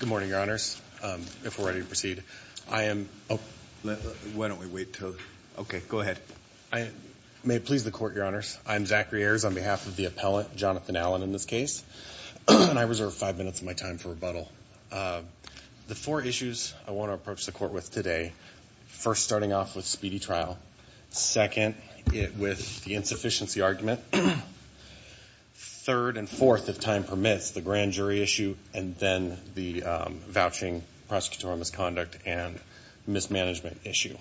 Good morning, your honors. If we're ready to proceed, I am. Why don't we wait till. Okay, go ahead. I may please the court, your honors. I'm Zachary Ayers on behalf of the appellant, Jonathan Allen, in this case, and I reserve five minutes of my time for rebuttal. The four issues I want to approach the court with today, first, starting off with speedy trial, second, with the insufficiency argument, third and fourth, if time permits, the grand jury issue, and then the vouching prosecutorial misconduct and mismanagement issue.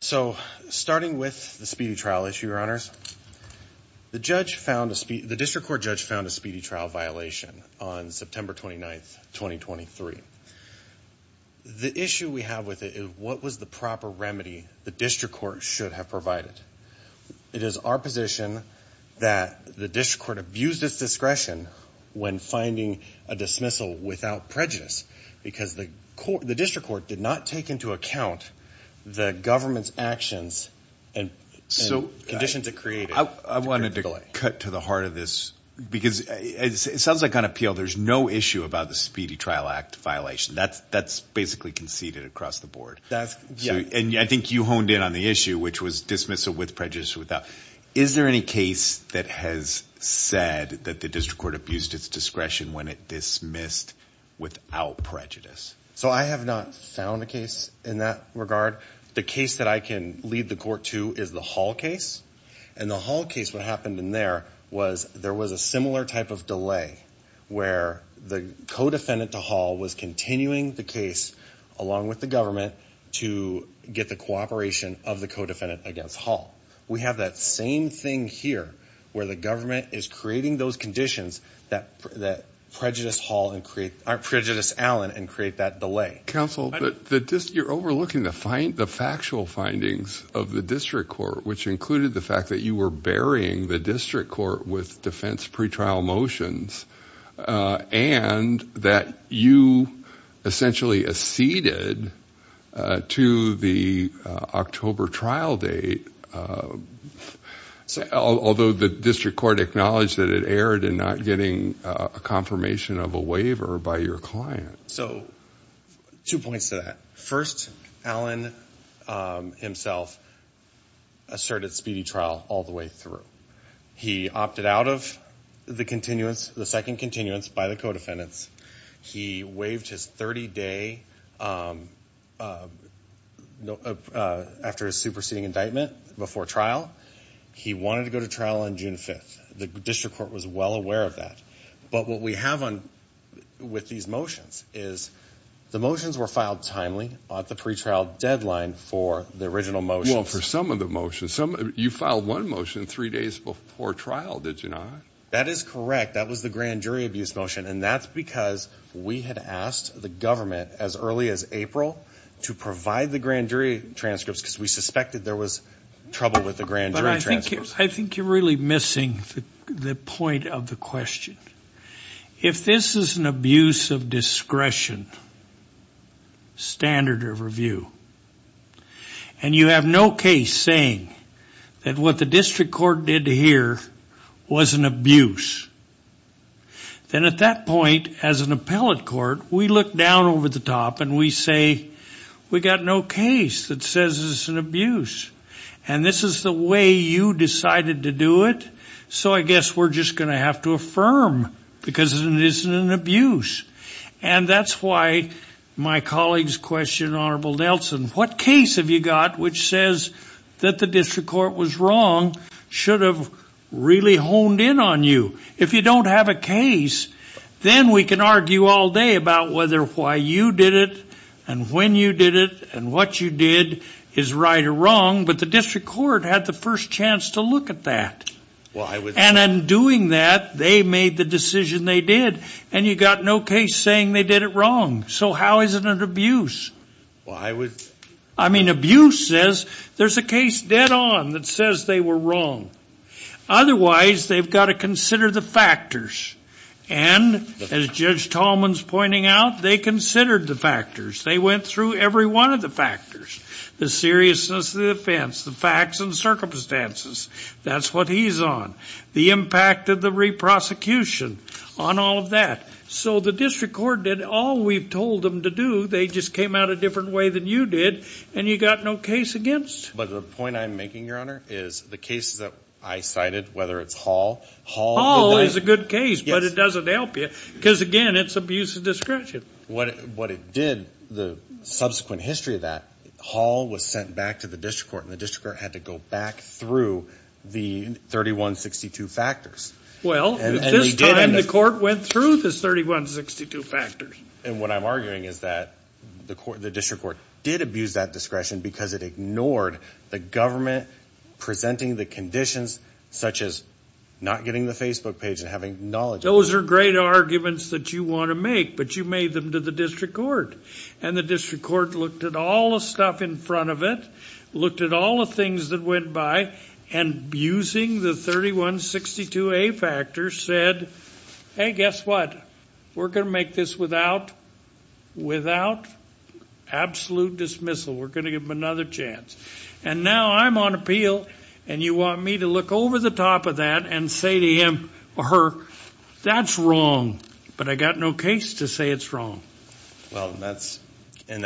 So starting with the speedy trial issue, your honors, the judge found a speedy, the district court judge found a speedy trial violation on September 29th, 2023. The issue we have with it is what was the proper remedy the district court should have provided? It is our position that the district court abused its discretion when finding a dismissal without prejudice because the court, the district court did not take into account the government's actions and conditions it created. I wanted to cut to the heart of this because it sounds like on appeal, there's no issue about the speedy trial act violation. That's basically conceded across the board. And I think you honed in on the issue, which was dismissal with prejudice or without. Is there any case that has said that the district court abused its discretion when it dismissed without prejudice? So I have not found a case in that regard. The case that I can lead the court to is the Hall case. And the Hall case, what happened in there was there was a similar type of delay where the co-defendant to Hall was continuing the case along with the government to get the cooperation of the co-defendant against Hall. We have that same thing here where the government is creating those conditions that prejudice Allen and create that delay. Counsel, you're overlooking the factual findings of the district court, which included the fact that you were burying the district court with defense pretrial motions and that you essentially acceded to the October trial date, although the district court acknowledged that it erred in not getting a confirmation of a waiver by your client. So two points to that. First, Allen himself asserted speedy trial all the way through. He opted out of the continuance, the second continuance by the co-defendants. He waived his 30-day after a superseding indictment before trial. He wanted to go to trial on June 5th. The district court was well aware of that. But what we have on with these motions is the motions were filed timely at the pretrial deadline for the original motion for some of the motion. Some of you filed one motion three days before trial. Did you not? That is correct. That was the grand jury abuse motion. And that's because we had asked the government as early as April to provide the grand jury transcripts because we suspected there was trouble with the grand jury. I think you're really missing the point of the question. If this is an abuse of discretion standard of review and you have no case saying that what the district court did here was an abuse, then at that point as an appellate court, we look down over the top and we say we got no case that says it's an abuse. And this is the way you decided to do it, so I guess we're just going to have to affirm because it isn't an abuse. And that's why my colleagues questioned Honorable Nelson. What case have you got which says that the district court was wrong should have really honed in on you? If you don't have a case, then we can argue all day about whether why you did it and when you did it and what you did is right or wrong. But the district court had the first chance to look at that. And in doing that, they made the decision they did. And you got no case saying they did it wrong. So how is it an abuse? I mean, abuse says there's a case dead on that says they were wrong. Otherwise, they've got to consider the factors. And as Judge Tallman's pointing out, they considered the factors. They went through every one of the factors, the seriousness of the offense, the facts and circumstances. That's what he's on. The impact of the re-prosecution on all of that. So the district court did all we've told them to do. They just came out a different way than you did. And you got no case against. But the point I'm making, Your Honor, is the cases that I cited, whether it's Hall. Hall is a good case, but it doesn't help you because, again, it's abuse of discretion. What it did, the subsequent history of that, Hall was sent back to the district court. And the district court had to go back through the 3162 factors. Well, at this time, the court went through the 3162 factors. And what I'm arguing is that the district court did abuse that discretion because it ignored the government presenting the conditions, such as not getting the Facebook page and having knowledge. Those are great arguments that you want to make, but you made them to the district court. And the district court looked at all the stuff in front of it, looked at all the things that went by, and, using the 3162A factors, said, hey, guess what? We're going to make this without absolute dismissal. We're going to give them another chance. And now I'm on appeal, and you want me to look over the top of that and say to him or her, that's wrong. But I got no case to say it's wrong. Well, and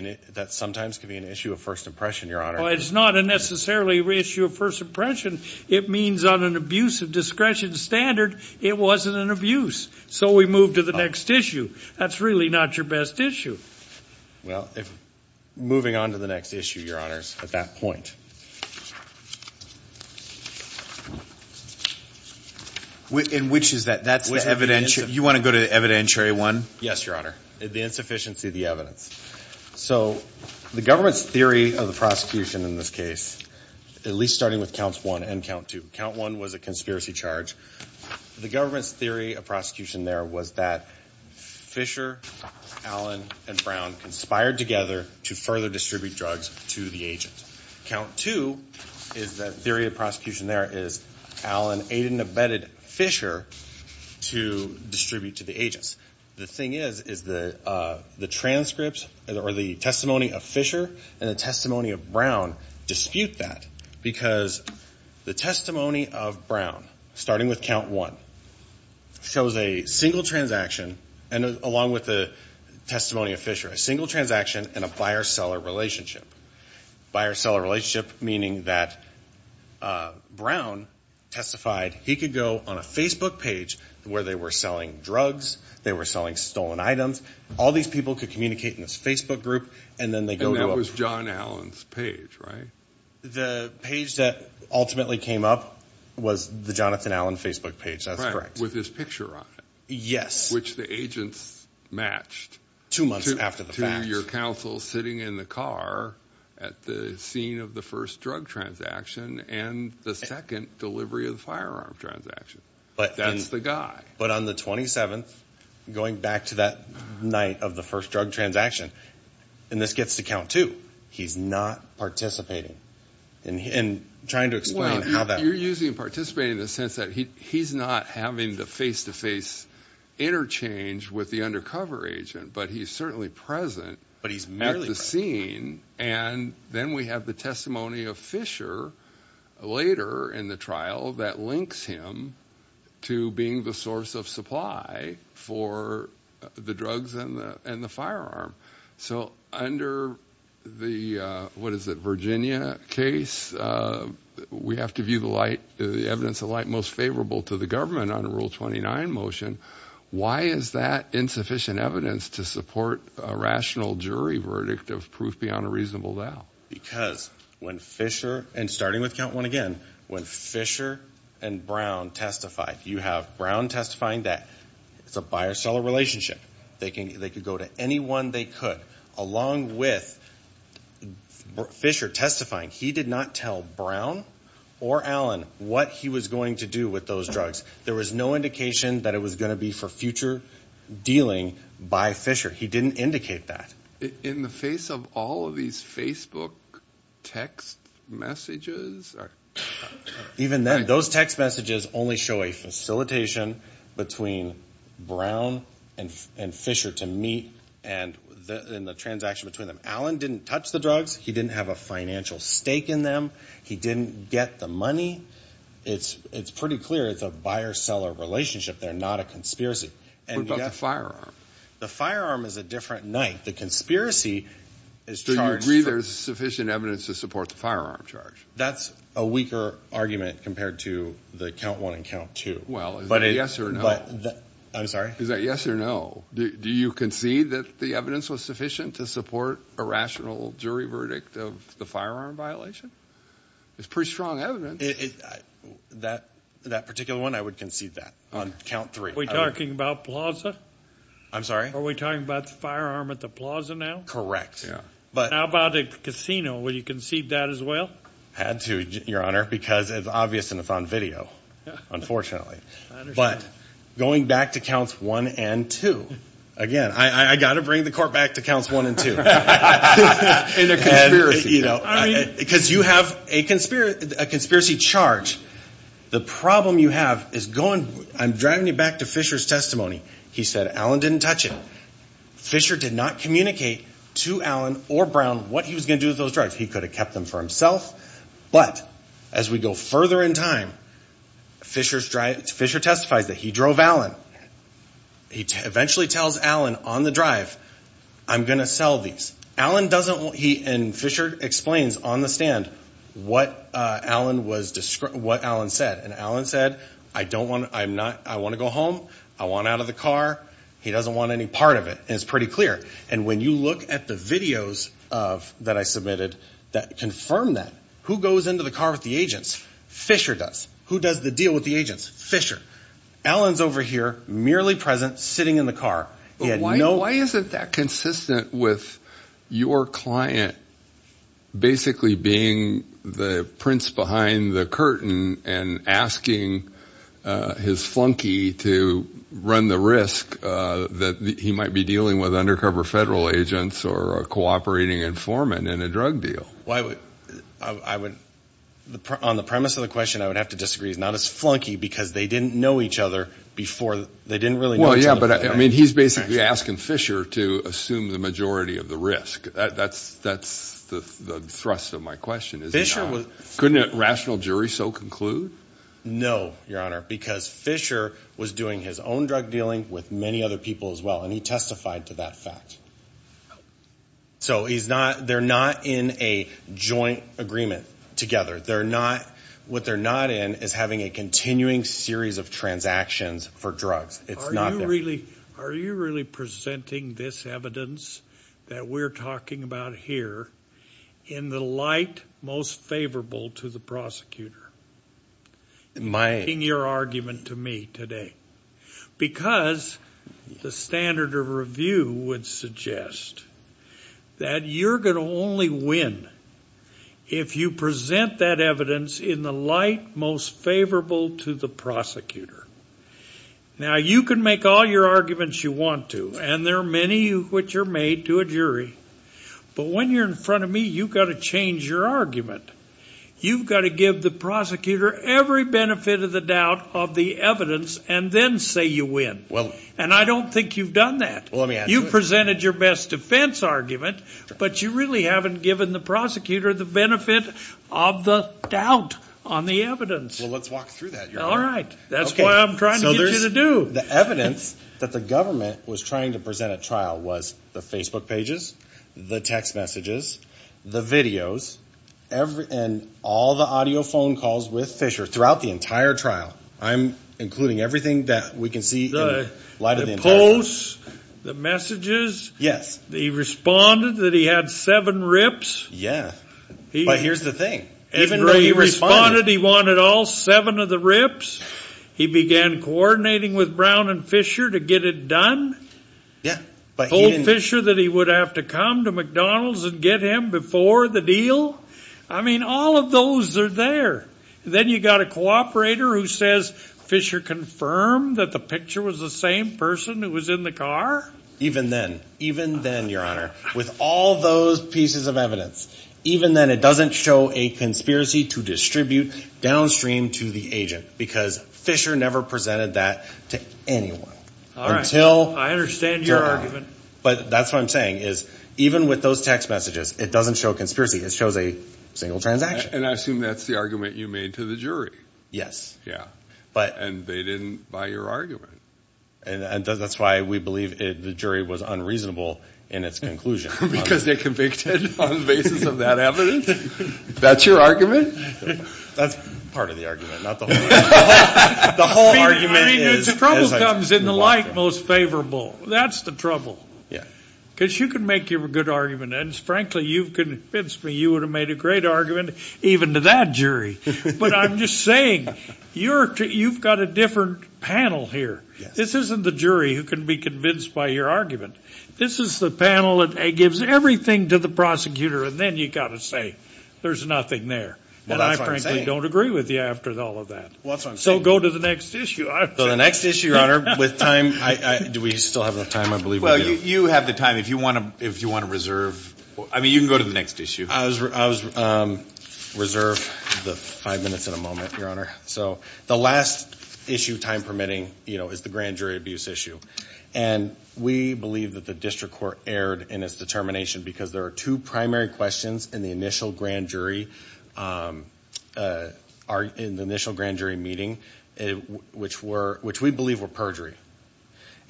that sometimes can be an issue of first impression, Your Honor. Well, it's not necessarily an issue of first impression. It means on an abuse of discretion standard, it wasn't an abuse. So we move to the next issue. That's really not your best issue. Well, moving on to the next issue, Your Honors, at that point. And which is that? You want to go to the evidentiary one? Yes, Your Honor. The insufficiency of the evidence. So the government's theory of the prosecution in this case, at least starting with Counts 1 and Count 2. Count 1 was a conspiracy charge. The government's theory of prosecution there was that Fisher, Allen, and Brown conspired together to further distribute drugs to the agent. Count 2 is that theory of prosecution there is Allen aided and abetted Fisher to distribute to the agents. The thing is, is the transcripts or the testimony of Fisher and the testimony of Brown dispute that because the testimony of Brown, starting with Count 1, shows a single transaction, and along with the testimony of Fisher, a single transaction and a buyer-seller relationship. Buyer-seller relationship meaning that Brown testified he could go on a Facebook page where they were selling drugs. They were selling stolen items. All these people could communicate in this Facebook group, and then they go to a- And that was John Allen's page, right? The page that ultimately came up was the Jonathan Allen Facebook page. That's correct. With his picture on it. Yes. Which the agents matched. Two months after the fact. To your counsel sitting in the car at the scene of the first drug transaction and the second delivery of the firearm transaction. That's the guy. But on the 27th, going back to that night of the first drug transaction, and this gets to Count 2, he's not participating in trying to explain how that- Well, you're using participating in the sense that he's not having the face-to-face interchange with the undercover agent, but he's certainly present at the scene, and then we have the testimony of Fisher later in the trial that links him to being the source of supply for the drugs and the firearm. So under the- What is it? Virginia case, we have to view the evidence of light most favorable to the government under Rule 29 motion. Why is that insufficient evidence to support a rational jury verdict of proof beyond a reasonable doubt? Because when Fisher, and starting with Count 1 again, when Fisher and Brown testified, you have Brown testifying that it's a buyer-seller relationship. They could go to anyone they could. Along with Fisher testifying, he did not tell Brown or Allen what he was going to do with those drugs. There was no indication that it was going to be for future dealing by Fisher. He didn't indicate that. In the face of all of these Facebook text messages? Even then, those text messages only show a facilitation between Brown and Fisher to meet in the transaction between them. Allen didn't touch the drugs. He didn't have a financial stake in them. He didn't get the money. It's pretty clear it's a buyer-seller relationship. They're not a conspiracy. What about the firearm? The firearm is a different night. The conspiracy is charged- So you agree there's sufficient evidence to support the firearm charge? That's a weaker argument compared to the Count 1 and Count 2. Well, is that yes or no? I'm sorry? Is that yes or no? Do you concede that the evidence was sufficient to support a rational jury verdict of the firearm violation? It's pretty strong evidence. That particular one, I would concede that on Count 3. Are we talking about Plaza? I'm sorry? Are we talking about the firearm at the Plaza now? Correct. How about a casino? Would you concede that as well? Had to, Your Honor, because it's obvious and it's on video, unfortunately. But going back to Counts 1 and 2, again, I've got to bring the court back to Counts 1 and 2. In a conspiracy. Because you have a conspiracy charge. The problem you have is going- I'm driving you back to Fisher's testimony. He said Allen didn't touch it. Fisher did not communicate to Allen or Brown what he was going to do with those drugs. He could have kept them for himself. But as we go further in time, Fisher testifies that he drove Allen. He eventually tells Allen on the drive, I'm going to sell these. And Fisher explains on the stand what Allen said. And Allen said, I want to go home. I want out of the car. He doesn't want any part of it. And it's pretty clear. And when you look at the videos that I submitted that confirm that, who goes into the car with the agents? Fisher does. Who does the deal with the agents? Fisher. Allen's over here, merely present, sitting in the car. Why isn't that consistent with your client basically being the prince behind the curtain and asking his flunky to run the risk that he might be dealing with undercover federal agents or a cooperating informant in a drug deal? On the premise of the question, I would have to disagree. It's not his flunky because they didn't know each other before. He's basically asking Fisher to assume the majority of the risk. That's the thrust of my question. Couldn't a rational jury so conclude? No, Your Honor, because Fisher was doing his own drug dealing with many other people as well. And he testified to that fact. So they're not in a joint agreement together. What they're not in is having a continuing series of transactions for drugs. It's not them. Are you really presenting this evidence that we're talking about here in the light most favorable to the prosecutor? Making your argument to me today. Because the standard of review would suggest that you're going to only win if you present that evidence in the light most favorable to the prosecutor. Now, you can make all your arguments you want to, and there are many which are made to a jury. But when you're in front of me, you've got to change your argument. You've got to give the prosecutor every benefit of the doubt of the evidence and then say you win. And I don't think you've done that. You've presented your best defense argument, but you really haven't given the prosecutor the benefit of the doubt on the evidence. Well, let's walk through that, Your Honor. All right. That's what I'm trying to get you to do. The evidence that the government was trying to present at trial was the Facebook pages, the text messages, the videos, and all the audio phone calls with Fisher throughout the entire trial, including everything that we can see in light of the investigation. The posts, the messages. Yes. He responded that he had seven rips. Yeah. But here's the thing. Even though he responded he wanted all seven of the rips, he began coordinating with Brown and Fisher to get it done. Told Fisher that he would have to come to McDonald's and get him before the deal. I mean, all of those are there. Then you've got a cooperator who says Fisher confirmed that the picture was the same person who was in the car. Even then, even then, Your Honor, with all those pieces of evidence, even then it doesn't show a conspiracy to distribute downstream to the agent because Fisher never presented that to anyone. I understand your argument. But that's what I'm saying is even with those text messages, it doesn't show a conspiracy. It shows a single transaction. And I assume that's the argument you made to the jury. Yes. Yeah. And they didn't buy your argument. And that's why we believe the jury was unreasonable in its conclusion. Because they're convicted on the basis of that evidence? That's your argument? That's part of the argument, not the whole argument. The whole argument is. The trouble comes in the like most favorable. That's the trouble. Yeah. Because you can make your good argument. And, frankly, you've convinced me you would have made a great argument even to that jury. But I'm just saying you've got a different panel here. This isn't the jury who can be convinced by your argument. This is the panel that gives everything to the prosecutor. And then you've got to say there's nothing there. Well, that's what I'm saying. And I, frankly, don't agree with you after all of that. Well, that's what I'm saying. So go to the next issue. So the next issue, Your Honor, with time. Do we still have enough time? I believe we do. Well, you have the time. If you want to reserve. I mean, you can go to the next issue. I reserve the five minutes and a moment, Your Honor. So the last issue, time permitting, is the grand jury abuse issue. And we believe that the district court erred in its determination because there are two primary questions in the initial grand jury meeting, which we believe were perjury.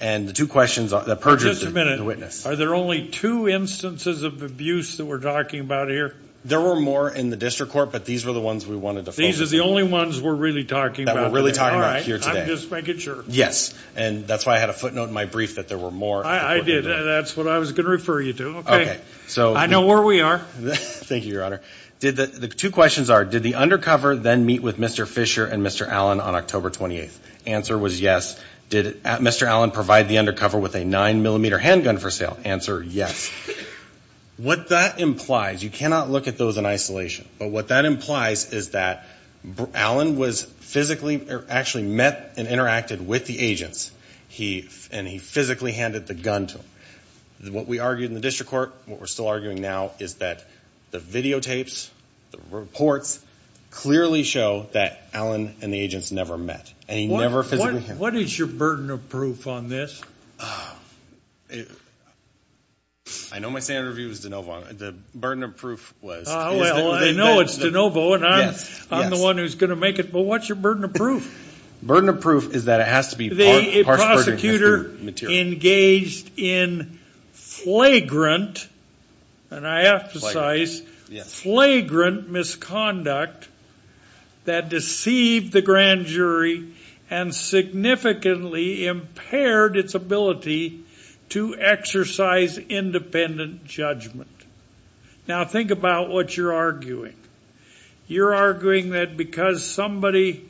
And the two questions that perjured the witness. Are there only two instances of abuse that we're talking about here? There were more in the district court, but these were the ones we wanted to focus on. These are the only ones we're really talking about? That we're really talking about here today. I'm just making sure. Yes. And that's why I had a footnote in my brief that there were more. I did. That's what I was going to refer you to. Okay. I know where we are. Thank you, Your Honor. The two questions are, did the undercover then meet with Mr. Fisher and Mr. Allen on October 28th? Answer was yes. Did Mr. Allen provide the undercover with a 9mm handgun for sale? Answer, yes. What that implies, you cannot look at those in isolation. But what that implies is that Allen was physically or actually met and interacted with the agents. And he physically handed the gun to them. What we argued in the district court, what we're still arguing now, is that the videotapes, the reports, clearly show that Allen and the agents never met. And he never physically handed them. What is your burden of proof on this? I know my standard of view is de novo. The burden of proof was... Well, I know it's de novo, and I'm the one who's going to make it. But what's your burden of proof? Burden of proof is that it has to be... The prosecutor engaged in flagrant, and I emphasize flagrant, misconduct that deceived the grand jury and significantly impaired its ability to exercise independent judgment. Now think about what you're arguing. You're arguing that because somebody,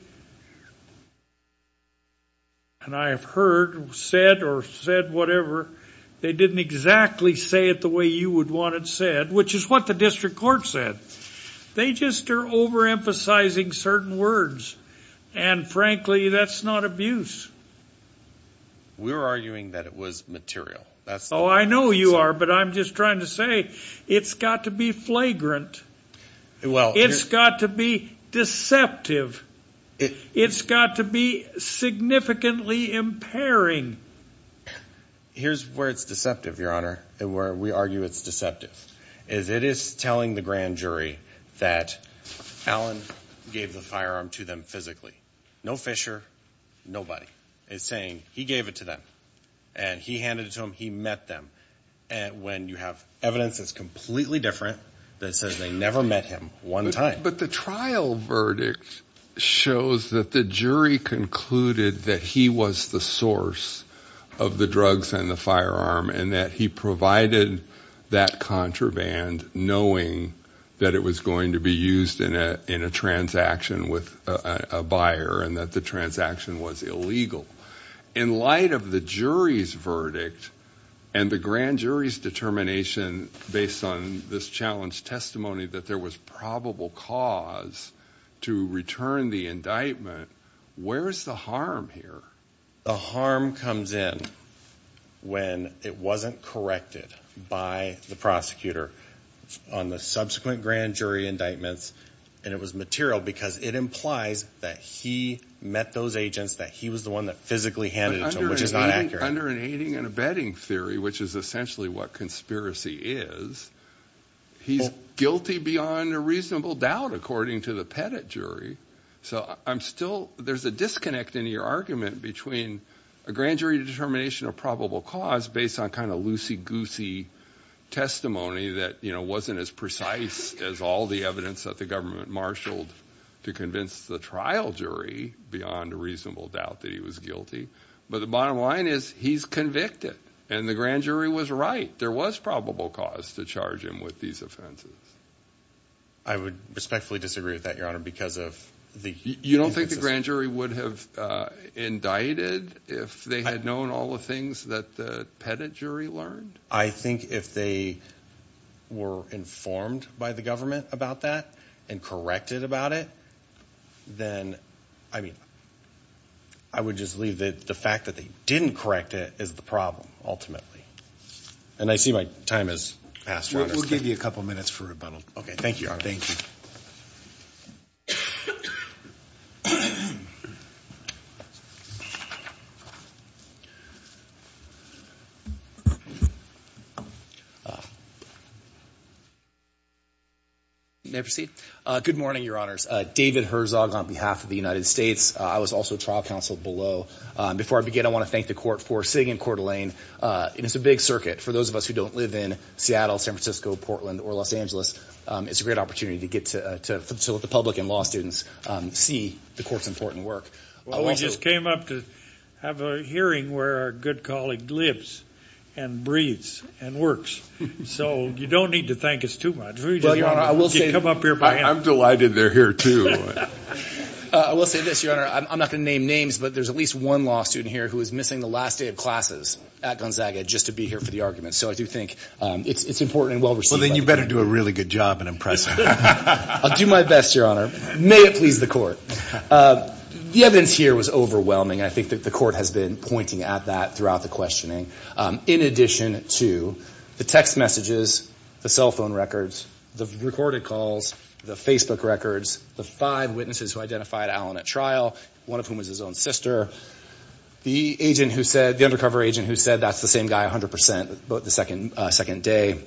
and I have heard, said or said whatever, they didn't exactly say it the way you would want it said, which is what the district court said. They just are overemphasizing certain words. And frankly, that's not abuse. We're arguing that it was material. Oh, I know you are, but I'm just trying to say it's got to be flagrant. It's got to be deceptive. It's got to be significantly impairing. Here's where it's deceptive, Your Honor, and where we argue it's deceptive. It is telling the grand jury that Allen gave the firearm to them physically. No Fisher, nobody. It's saying he gave it to them, and he handed it to them, he met them. And when you have evidence that's completely different, that says they never met him one time. But the trial verdict shows that the jury concluded that he was the source of the drugs and the firearm and that he provided that contraband knowing that it was going to be used in a transaction with a buyer and that the transaction was illegal. In light of the jury's verdict and the grand jury's determination, based on this challenge testimony, that there was probable cause to return the indictment, where is the harm here? The harm comes in when it wasn't corrected by the prosecutor on the subsequent grand jury indictments and it was material because it implies that he met those agents, that he was the one that physically handed it to them, which is not accurate. Under an aiding and abetting theory, which is essentially what conspiracy is, he's guilty beyond a reasonable doubt, according to the Pettit jury. So I'm still, there's a disconnect in your argument between a grand jury determination of probable cause based on kind of loosey-goosey testimony that wasn't as precise as all the evidence that the government marshaled to convince the trial jury beyond a reasonable doubt that he was guilty. But the bottom line is he's convicted and the grand jury was right. There was probable cause to charge him with these offenses. I would respectfully disagree with that, Your Honor, because of the... You don't think the grand jury would have indicted if they had known all the things that the Pettit jury learned? I think if they were informed by the government about that and corrected about it, then, I mean, I would just leave the fact that they didn't correct it as the problem, ultimately. And I see my time has passed. We'll give you a couple minutes for rebuttal. Okay, thank you, Your Honor. Thank you. May I proceed? Good morning, Your Honors. David Herzog on behalf of the United States. I was also trial counsel below. Before I begin, I want to thank the court for sitting in court, Elaine. It's a big circuit. For those of us who don't live in Seattle, San Francisco, Portland, or Los Angeles, it's a great opportunity to get to let the public and law students see the court's important work. Well, we just came up to have a hearing where our good colleague lives and breathes and works. So you don't need to thank us too much. We just want to come up here by hand. I'm delighted they're here, too. I will say this, Your Honor. I'm not going to name names, but there's at least one law student here who is missing the last day of classes at Gonzaga just to be here for the argument. So I do think it's important and well-received. Well, then you better do a really good job in impressing them. I'll do my best, Your Honor. May it please the court. The evidence here was overwhelming. I think that the court has been pointing at that throughout the questioning. In addition to the text messages, the cell phone records, the recorded calls, the Facebook records, the five witnesses who identified Allen at trial, one of whom was his own sister, the undercover agent who said that's the same guy 100% the second day,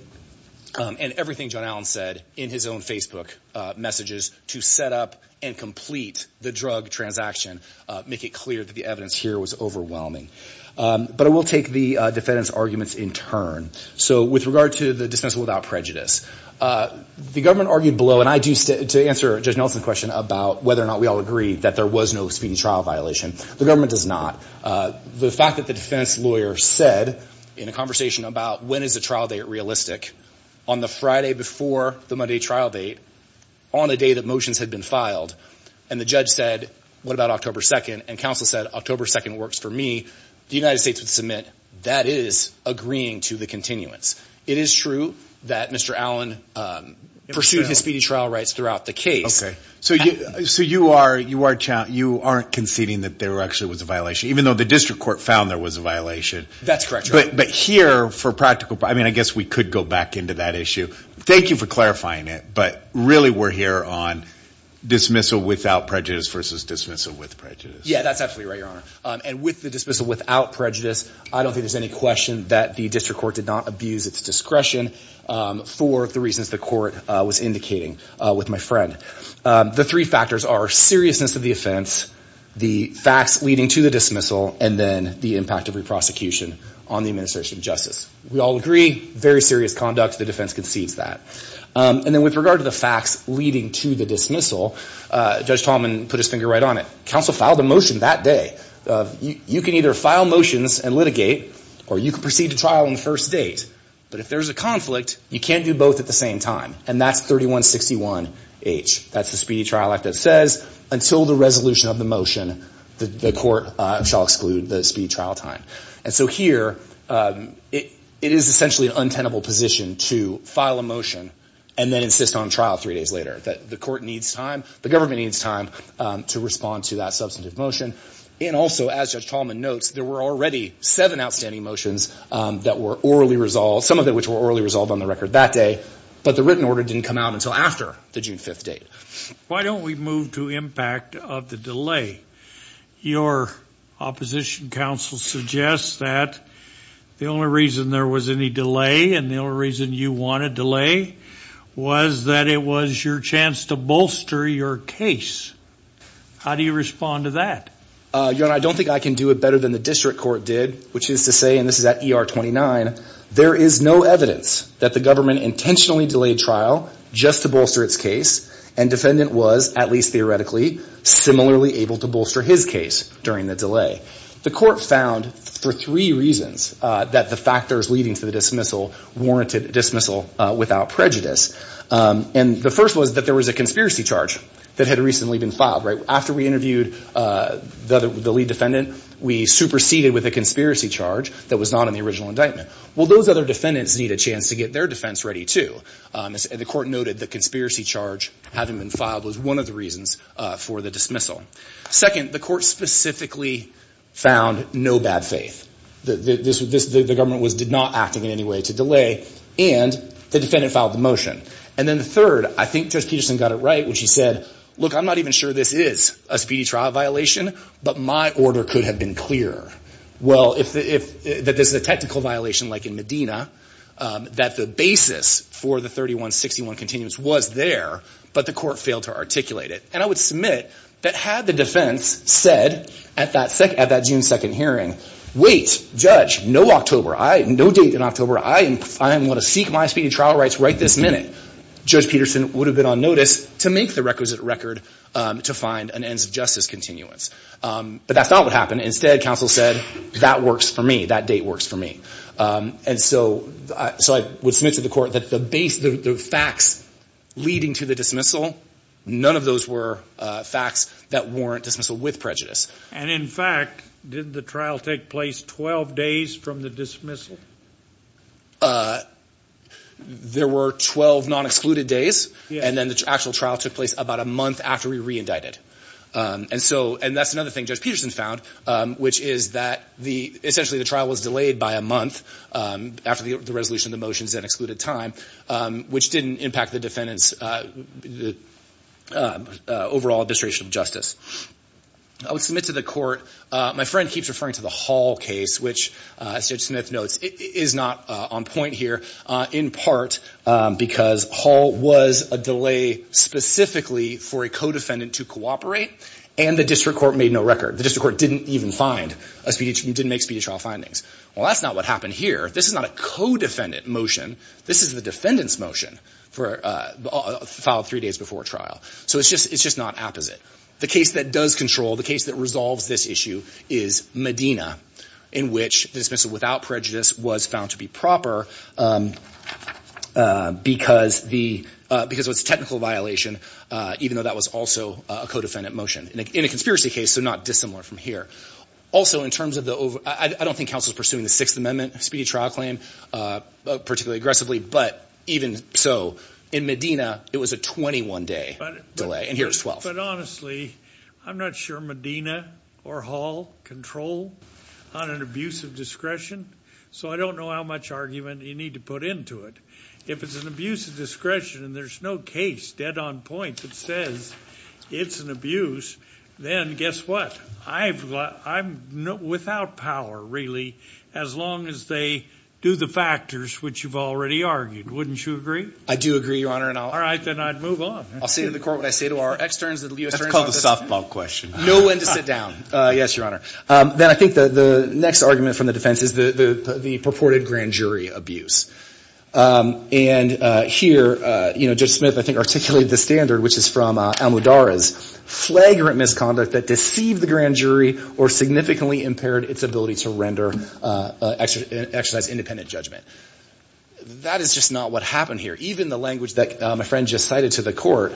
and everything John Allen said in his own Facebook messages to set up and complete the drug transaction make it clear that the evidence here was overwhelming. But I will take the defendant's arguments in turn. So with regard to the dismissal without prejudice, the government argued below, to answer Judge Nelson's question about whether or not we all agree that there was no speedy trial violation, the government does not. The fact that the defense lawyer said in a conversation about when is the trial date realistic, on the Friday before the Monday trial date, on the day that motions had been filed, and the judge said, what about October 2nd, and counsel said October 2nd works for me, the United States would submit that is agreeing to the continuance. It is true that Mr. Allen pursued his speedy trial rights throughout the case. So you aren't conceding that there actually was a violation, even though the district court found there was a violation. That's correct. But here for practical, I mean I guess we could go back into that issue. Thank you for clarifying it, but really we're here on dismissal without prejudice versus dismissal with prejudice. Yeah, that's absolutely right, Your Honor. And with the dismissal without prejudice, I don't think there's any question that the district court did not abuse its discretion for the reasons the court was indicating with my friend. The three factors are seriousness of the offense, the facts leading to the dismissal, and then the impact of re-prosecution on the administration of justice. We all agree, very serious conduct. The defense concedes that. And then with regard to the facts leading to the dismissal, Judge Tallman put his finger right on it. Counsel filed a motion that day. You can either file motions and litigate, or you can proceed to trial on the first date. But if there's a conflict, you can't do both at the same time. And that's 3161H. That's the Speedy Trial Act that says until the resolution of the motion, the court shall exclude the speedy trial time. And so here, it is essentially an untenable position to file a motion and then insist on trial three days later. The court needs time. The government needs time to respond to that substantive motion. And also, as Judge Tallman notes, there were already seven outstanding motions that were orally resolved, some of them which were orally resolved on the record that day, but the written order didn't come out until after the June 5th date. Why don't we move to impact of the delay? Your opposition counsel suggests that the only reason there was any delay and the only reason you wanted delay was that it was your chance to bolster your case. How do you respond to that? Your Honor, I don't think I can do it better than the district court did, which is to say, and this is at ER 29, there is no evidence that the government intentionally delayed trial just to bolster its case, and defendant was, at least theoretically, similarly able to bolster his case during the delay. The court found for three reasons that the factors leading to the dismissal warranted dismissal without prejudice. And the first was that there was a conspiracy charge that had recently been filed. After we interviewed the lead defendant, we superseded with a conspiracy charge that was not in the original indictment. Well, those other defendants need a chance to get their defense ready too. The court noted the conspiracy charge having been filed was one of the reasons for the dismissal. Second, the court specifically found no bad faith. The government did not act in any way to delay, and the defendant filed the motion. And then the third, I think Judge Peterson got it right when she said, look, I'm not even sure this is a speedy trial violation, but my order could have been clearer. Well, if this is a technical violation like in Medina, that the basis for the 3161 continuance was there, but the court failed to articulate it. And I would submit that had the defense said at that June 2nd hearing, wait, Judge, no date in October. I am going to seek my speedy trial rights right this minute. Judge Peterson would have been on notice to make the requisite record to find an ends of justice continuance. But that's not what happened. Instead, counsel said that works for me. That date works for me. And so I would submit to the court that the facts leading to the dismissal, none of those were facts that warrant dismissal with prejudice. And in fact, did the trial take place 12 days from the dismissal? There were 12 non-excluded days, and then the actual trial took place about a month after we re-indicted. And that's another thing Judge Peterson found, which is that essentially the trial was delayed by a month after the resolution of the motions and excluded time, which didn't impact the defendant's overall administration of justice. I would submit to the court, my friend keeps referring to the Hall case, which Judge Smith notes is not on point here, in part because Hall was a delay specifically for a co-defendant to cooperate, and the district court made no record. The district court didn't even make speedy trial findings. Well, that's not what happened here. This is not a co-defendant motion. This is the defendant's motion filed three days before trial. So it's just not apposite. The case that does control, the case that resolves this issue is Medina, in which the dismissal without prejudice was found to be proper because it was a technical violation, even though that was also a co-defendant motion, in a conspiracy case, so not dissimilar from here. Also, I don't think counsel is pursuing the Sixth Amendment speedy trial claim particularly aggressively, but even so, in Medina, it was a 21-day delay, and here it's 12. But honestly, I'm not sure Medina or Hall control on an abuse of discretion, so I don't know how much argument you need to put into it. If it's an abuse of discretion and there's no case dead on point that says it's an abuse, then guess what? I'm without power, really, as long as they do the factors which you've already argued. Wouldn't you agree? I do agree, Your Honor. All right. Then I'd move on. I'll say to the court what I say to our externs. That's called a softball question. Know when to sit down. Yes, Your Honor. Then I think the next argument from the defense is the purported grand jury abuse. And here, you know, Judge Smith, I think, articulated the standard, which is from Almodarra's flagrant misconduct that deceived the grand jury or significantly impaired its ability to render, exercise independent judgment. That is just not what happened here. Even the language that my friend just cited to the court,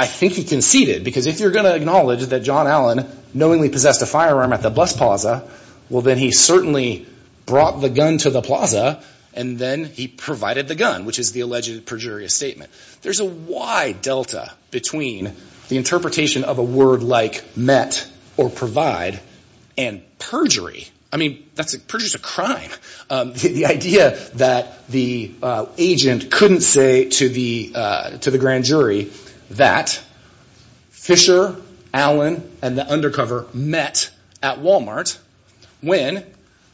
I think he conceded, because if you're going to acknowledge that John Allen knowingly possessed a firearm at the bus plaza, well, then he certainly brought the gun to the plaza and then he provided the gun, which is the alleged perjurious statement. There's a wide delta between the interpretation of a word like met or provide and perjury. I mean, perjury is a crime. The idea that the agent couldn't say to the grand jury that Fisher, Allen, and the undercover met at Walmart when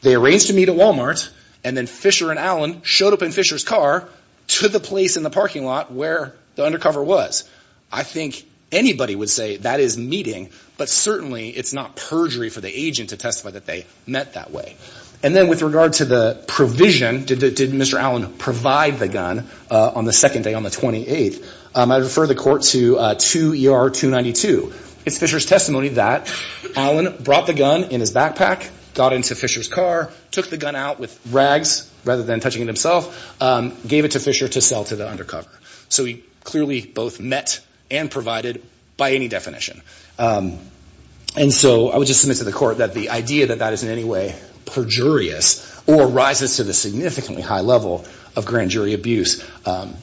they arranged to meet at Walmart and then Fisher and Allen showed up in Fisher's car to the place in the parking lot where the undercover was. I think anybody would say that is meeting, but certainly it's not perjury for the agent to testify that they met that way. And then with regard to the provision, did Mr. Allen provide the gun on the second day, on the 28th, I refer the court to 2 ER 292. It's Fisher's testimony that Allen brought the gun in his backpack, got into Fisher's car, took the gun out with rags rather than touching it himself, gave it to Fisher to sell to the undercover. So he clearly both met and provided by any definition. And so I would just submit to the court that the idea that that is in any way perjurious or rises to the significantly high level of grand jury abuse,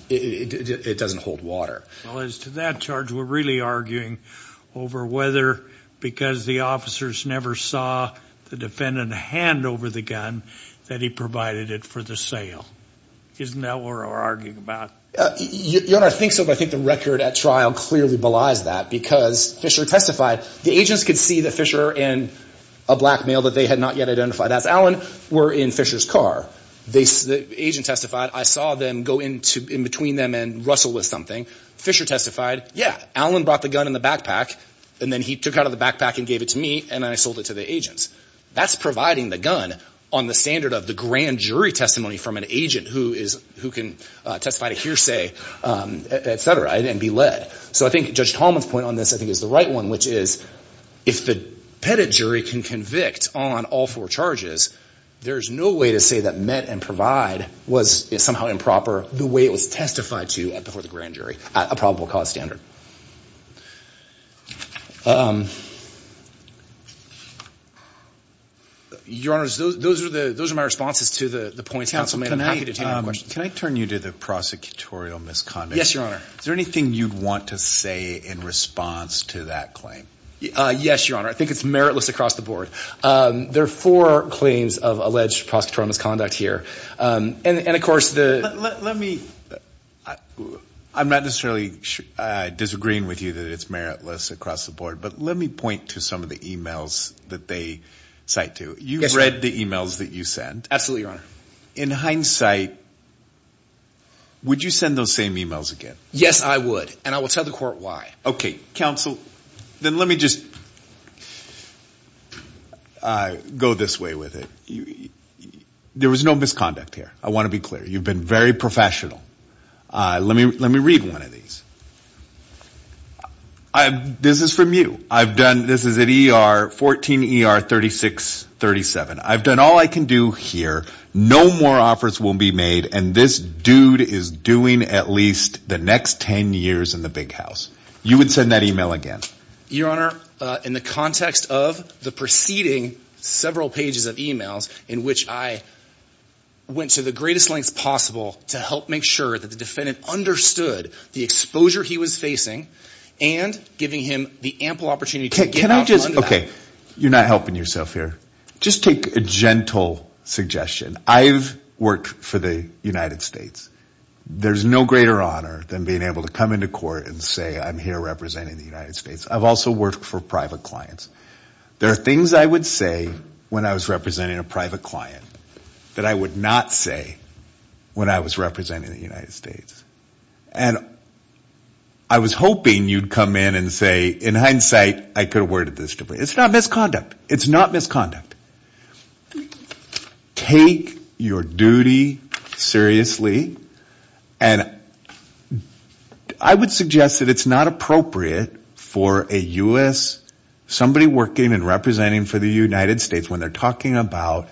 it doesn't hold water. Well, as to that charge, we're really arguing over whether because the officers never saw the defendant hand over the gun that he provided it for the sale. Isn't that what we're arguing about? Your Honor, I think so, but I think the record at trial clearly belies that because Fisher testified. The agents could see that Fisher and a black male that they had not yet identified as Allen were in Fisher's car. The agent testified, I saw them go in between them and wrestle with something. Fisher testified, yeah, Allen brought the gun in the backpack, and then he took out of the backpack and gave it to me, and then I sold it to the agents. That's providing the gun on the standard of the grand jury testimony from an agent who can testify to hearsay, et cetera, and be led. So I think Judge Tallman's point on this I think is the right one, which is if the pettit jury can convict on all four charges, there's no way to say that met and provide was somehow improper the way it was testified to before the grand jury at a probable cause standard. Your Honor, those are my responses to the points counsel made. I'm happy to take any questions. Can I turn you to the prosecutorial misconduct? Yes, Your Honor. Is there anything you'd want to say in response to that claim? Yes, Your Honor. I think it's meritless across the board. There are four claims of alleged prosecutorial misconduct here, and of course the – I'm not necessarily disagreeing with you that it's meritless across the board, but let me point to some of the e-mails that they cite to. You've read the e-mails that you sent. Absolutely, Your Honor. In hindsight, would you send those same e-mails again? Yes, I would, and I will tell the court why. Okay. Counsel, then let me just go this way with it. There was no misconduct here. I want to be clear. You've been very professional. Let me read one of these. This is from you. I've done – this is at ER – 14 ER 3637. I've done all I can do here. No more offers will be made, and this dude is doing at least the next 10 years in the big house. You would send that e-mail again? Your Honor, in the context of the preceding several pages of e-mails in which I went to the greatest lengths possible to help make sure that the defendant understood the exposure he was facing and giving him the ample opportunity to get out and run to that. Can I just – okay. You're not helping yourself here. Just take a gentle suggestion. I've worked for the United States. There's no greater honor than being able to come into court and say I'm here representing the United States. I've also worked for private clients. There are things I would say when I was representing a private client that I would not say when I was representing the United States. And I was hoping you'd come in and say, in hindsight, I could have worded this differently. It's not misconduct. It's not misconduct. Take your duty seriously. And I would suggest that it's not appropriate for a U.S. – somebody working and representing for the United States, when they're talking about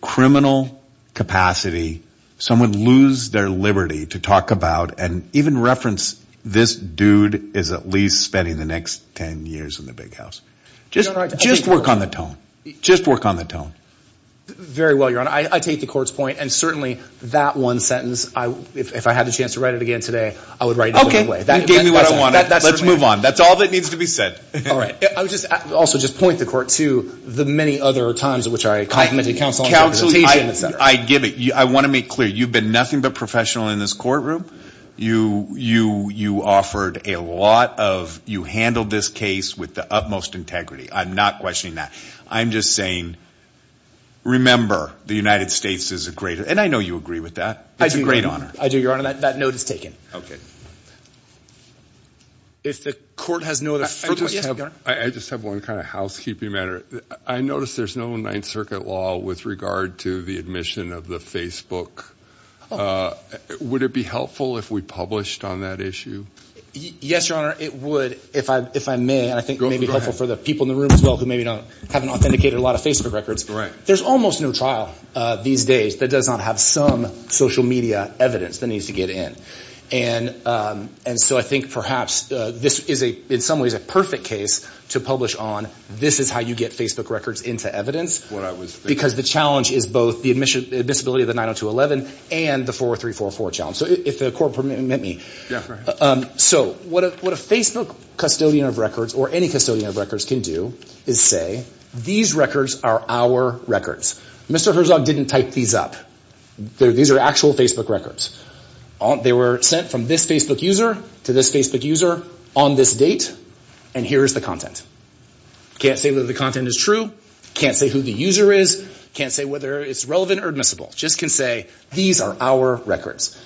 criminal capacity, someone lose their liberty to talk about and even reference this dude is at least spending the next 10 years in the big house. Just work on the tone. Just work on the tone. Very well, Your Honor. I take the court's point. And certainly that one sentence, if I had the chance to write it again today, I would write it in a different way. You gave me what I wanted. Let's move on. That's all that needs to be said. All right. I would also just point the court to the many other times which I complimented counsel on representation, et cetera. Counsel, I give it. I want to make clear. You've been nothing but professional in this courtroom. You offered a lot of – you handled this case with the utmost integrity. I'm not questioning that. I'm just saying remember the United States is a great – and I know you agree with that. It's a great honor. I do, Your Honor. That note is taken. Okay. If the court has no other – I just have one kind of housekeeping matter. I notice there's no Ninth Circuit law with regard to the admission of the Facebook. Would it be helpful if we published on that issue? Yes, Your Honor. It would if I may, and I think it may be helpful for the people in the room as well who maybe don't – haven't authenticated a lot of Facebook records. Right. There's almost no trial these days that does not have some social media evidence that needs to get in. And so I think perhaps this is in some ways a perfect case to publish on. This is how you get Facebook records into evidence. What I was thinking. Because the challenge is both the admissibility of the 90211 and the 40344 challenge. So if the court will permit me. Yeah, go ahead. So what a Facebook custodian of records or any custodian of records can do is say these records are our records. Mr. Herzog didn't type these up. These are actual Facebook records. They were sent from this Facebook user to this Facebook user on this date, and here is the content. Can't say whether the content is true. Can't say who the user is. Can't say whether it's relevant or admissible. Just can say these are our records.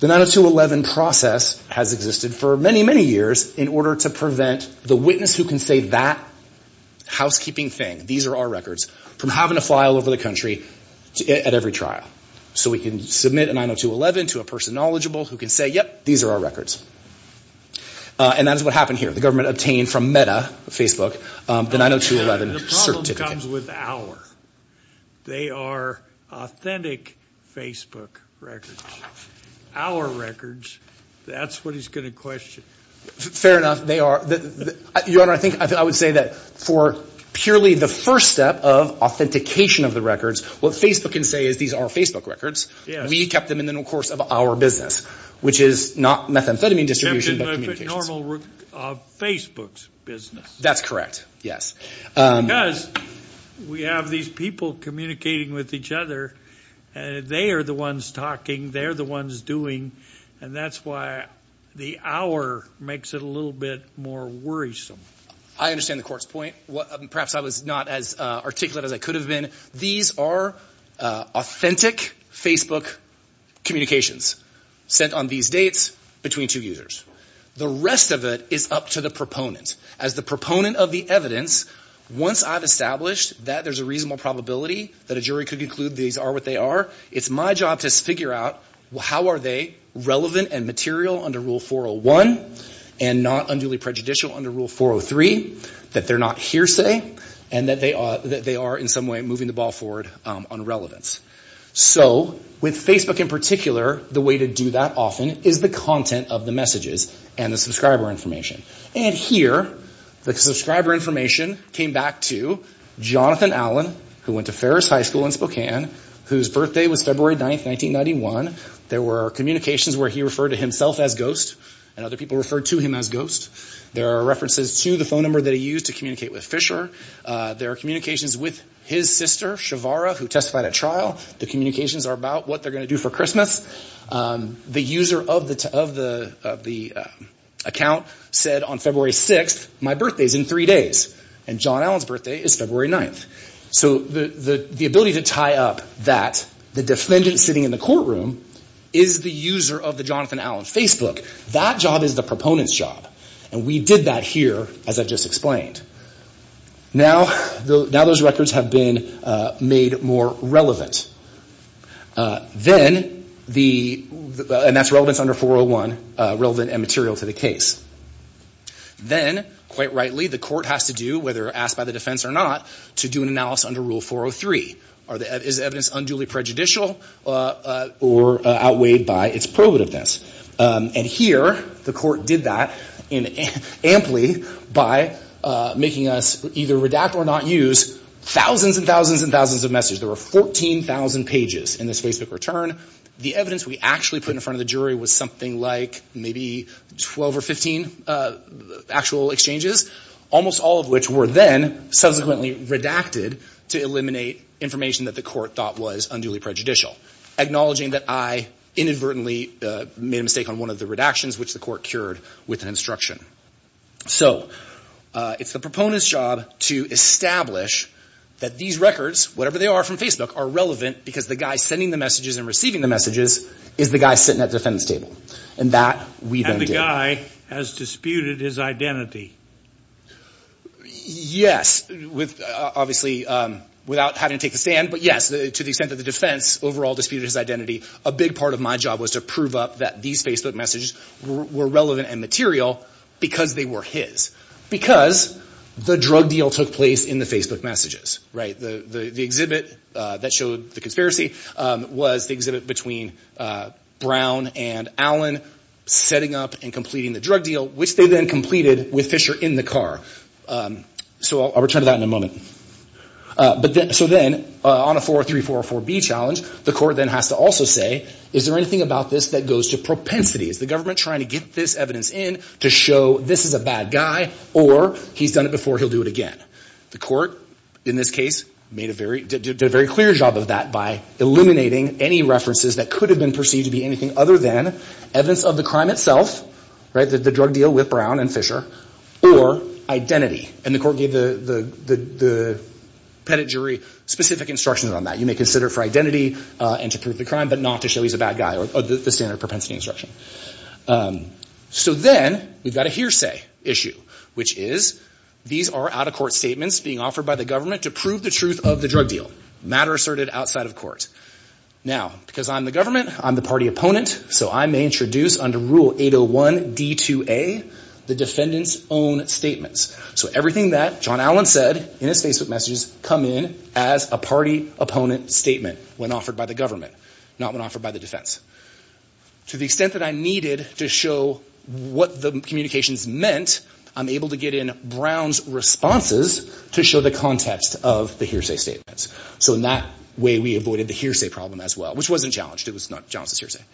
The 90211 process has existed for many, many years in order to prevent the witness who can say that housekeeping thing, these are our records, from having to fly all over the country at every trial. So we can submit a 90211 to a person knowledgeable who can say, yep, these are our records. And that is what happened here. The government obtained from Meta, Facebook, the 90211 certificate. The problem comes with our. They are authentic Facebook records. Our records, that's what he's going to question. Fair enough. They are. Your Honor, I think I would say that for purely the first step of authentication of the records, what Facebook can say is these are Facebook records. We kept them in the course of our business, which is not methamphetamine distribution but communications. It's a formal Facebook business. That's correct, yes. Because we have these people communicating with each other, and they are the ones talking, they are the ones doing, and that's why the hour makes it a little bit more worrisome. I understand the court's point. Perhaps I was not as articulate as I could have been. These are authentic Facebook communications sent on these dates between two users. The rest of it is up to the proponent. As the proponent of the evidence, once I've established that there's a reasonable probability that a jury could conclude these are what they are, it's my job to figure out how are they relevant and material under Rule 401 and not unduly prejudicial under Rule 403, that they're not hearsay, and that they are in some way moving the ball forward on relevance. With Facebook in particular, the way to do that often is the content of the messages and the subscriber information. Here, the subscriber information came back to Jonathan Allen, who went to Ferris High School in Spokane, whose birthday was February 9, 1991. There were communications where he referred to himself as Ghost, and other people referred to him as Ghost. There are references to the phone number that he used to communicate with Fisher. There are communications with his sister, Shavara, who testified at trial. The communications are about what they're going to do for Christmas. The user of the account said on February 6, my birthday is in three days, and John Allen's birthday is February 9. So the ability to tie up that, the defendant sitting in the courtroom, is the user of the Jonathan Allen Facebook. That job is the proponent's job, and we did that here, as I've just explained. Now those records have been made more relevant. Then, and that's relevance under 401, relevant and material to the case. Then, quite rightly, the court has to do, whether asked by the defense or not, to do an analysis under Rule 403. Is the evidence unduly prejudicial or outweighed by its prohibitiveness? And here, the court did that amply by making us either redact or not use thousands and thousands and thousands of messages. There were 14,000 pages in this Facebook return. The evidence we actually put in front of the jury was something like maybe 12 or 15 actual exchanges, almost all of which were then subsequently redacted to eliminate information that the court thought was unduly prejudicial, acknowledging that I inadvertently made a mistake on one of the redactions, which the court cured with an instruction. So it's the proponent's job to establish that these records, whatever they are from Facebook, are relevant because the guy sending the messages and receiving the messages is the guy sitting at the defense table. And that we then did. And the guy has disputed his identity. Yes, obviously without having to take the stand. But yes, to the extent that the defense overall disputed his identity, a big part of my job was to prove up that these Facebook messages were relevant and material because they were his. Because the drug deal took place in the Facebook messages. The exhibit that showed the conspiracy was the exhibit between Brown and Allen setting up and completing the drug deal, which they then completed with Fisher in the car. So I'll return to that in a moment. So then on a 403-404-B challenge, the court then has to also say, is there anything about this that goes to propensity? Is the government trying to get this evidence in to show this is a bad guy or he's done it before, he'll do it again? The court, in this case, did a very clear job of that by eliminating any references that could have been perceived to be anything other than evidence of the crime itself. The drug deal with Brown and Fisher, or identity. And the court gave the pettit jury specific instructions on that. You may consider for identity and to prove the crime, but not to show he's a bad guy, or the standard propensity instruction. So then we've got a hearsay issue, which is these are out-of-court statements being offered by the government to prove the truth of the drug deal. Matter asserted outside of court. Now, because I'm the government, I'm the party opponent, so I may introduce under Rule 801-D2A the defendant's own statements. So everything that John Allen said in his Facebook messages come in as a party opponent statement when offered by the government, not when offered by the defense. To the extent that I needed to show what the communications meant, I'm able to get in Brown's responses to show the context of the hearsay statements. So in that way, we avoided the hearsay problem as well, which wasn't challenged. It was not challenged as hearsay.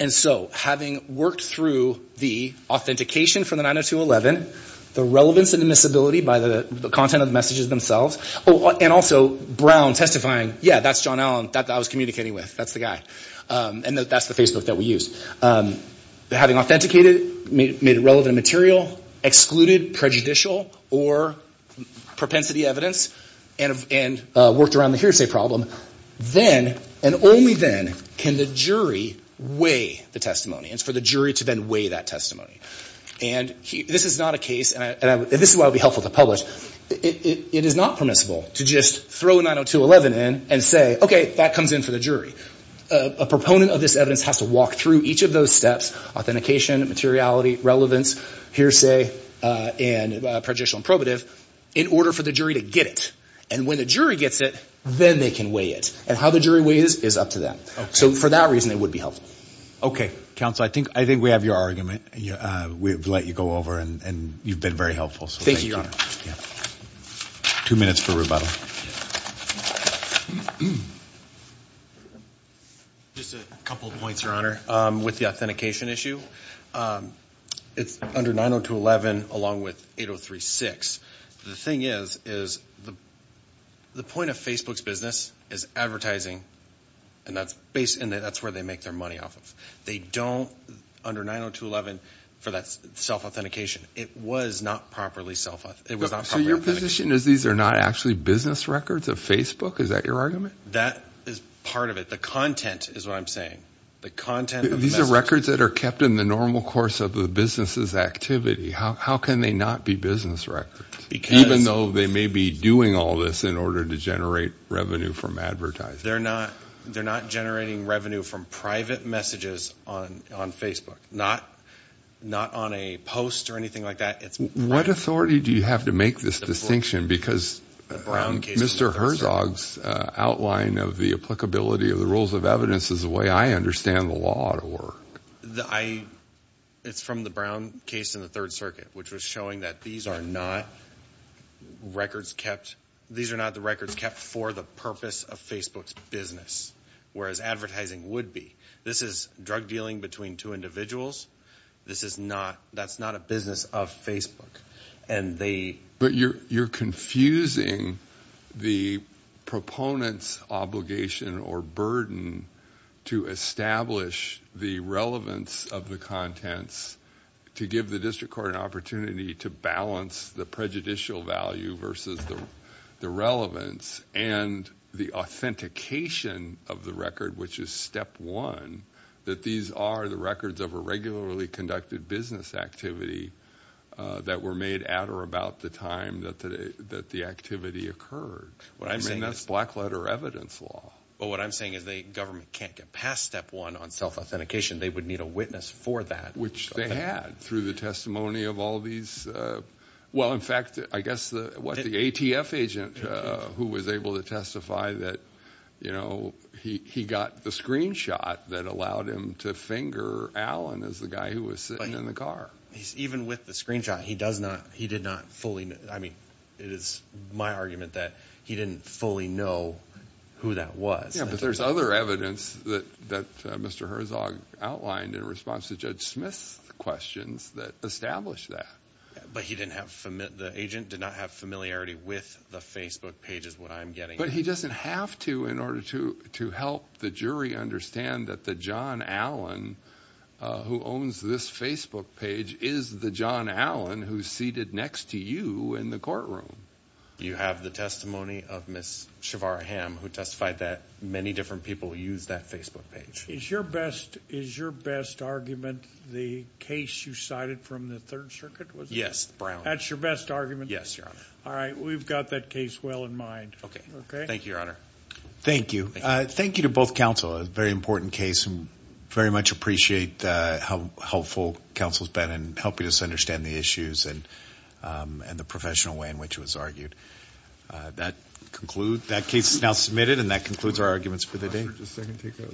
And so having worked through the authentication from the 902.11, the relevance and admissibility by the content of the messages themselves, and also Brown testifying, yeah, that's John Allen that I was communicating with. That's the guy. And that's the Facebook that we used. Having authenticated, made it relevant material, excluded prejudicial or propensity evidence, and worked around the hearsay problem, then and only then can the jury weigh the testimony. It's for the jury to then weigh that testimony. And this is not a case, and this is why it would be helpful to publish. It is not permissible to just throw 902.11 in and say, okay, that comes in for the jury. A proponent of this evidence has to walk through each of those steps, authentication, materiality, relevance, hearsay, and prejudicial and probative, in order for the jury to get it. And when the jury gets it, then they can weigh it. And how the jury weighs is up to them. So for that reason, it would be helpful. Okay. Counsel, I think we have your argument. We've let you go over, and you've been very helpful. Thank you, Your Honor. Two minutes for rebuttal. Just a couple points, Your Honor. With the authentication issue, it's under 902.11 along with 803.6. The thing is, is the point of Facebook's business is advertising, and that's where they make their money off of. They don't, under 902.11, for that self-authentication, it was not properly self-authenticated. So your position is these are not actually business records of Facebook? Is that your argument? That is part of it. The content is what I'm saying. The content of the message. These are records that are kept in the normal course of the business's activity. How can they not be business records, even though they may be doing all this in order to generate revenue from advertising? They're not generating revenue from private messages on Facebook, not on a post or anything like that. What authority do you have to make this distinction? Because Mr. Herzog's outline of the applicability of the rules of evidence is the way I understand the law to work. It's from the Brown case in the Third Circuit, which was showing that these are not records kept. These are not the records kept for the purpose of Facebook's business, whereas advertising would be. This is drug dealing between two individuals. That's not a business of Facebook. But you're confusing the proponent's obligation or burden to establish the relevance of the contents to give the district court an opportunity to balance the prejudicial value versus the relevance and the authentication of the record, which is step one, that these are the records of a regularly conducted business activity that were made at or about the time that the activity occurred. I mean, that's black letter evidence law. But what I'm saying is the government can't get past step one on self-authentication. They would need a witness for that. Which they had through the testimony of all these. Well, in fact, I guess what the ATF agent who was able to testify that, you know, he got the screenshot that allowed him to finger Alan as the guy who was sitting in the car. Even with the screenshot, he did not fully. I mean, it is my argument that he didn't fully know who that was. Yeah, but there's other evidence that Mr. Herzog outlined in response to Judge Smith's questions that established that. But he didn't have the agent did not have familiarity with the Facebook page is what I'm getting. But he doesn't have to in order to to help the jury understand that the John Allen who owns this Facebook page is the John Allen who's seated next to you in the courtroom. You have the testimony of Ms. Shavara Ham, who testified that many different people use that Facebook page. Is your best is your best argument the case you cited from the Third Circuit? Yes, Brown. That's your best argument. Yes. All right. We've got that case well in mind. OK. OK. Thank you, Your Honor. Thank you. Thank you to both counsel. A very important case. Very much appreciate how helpful counsel's been in helping us understand the issues and and the professional way in which it was argued that conclude that case now submitted. And that concludes our arguments for the day.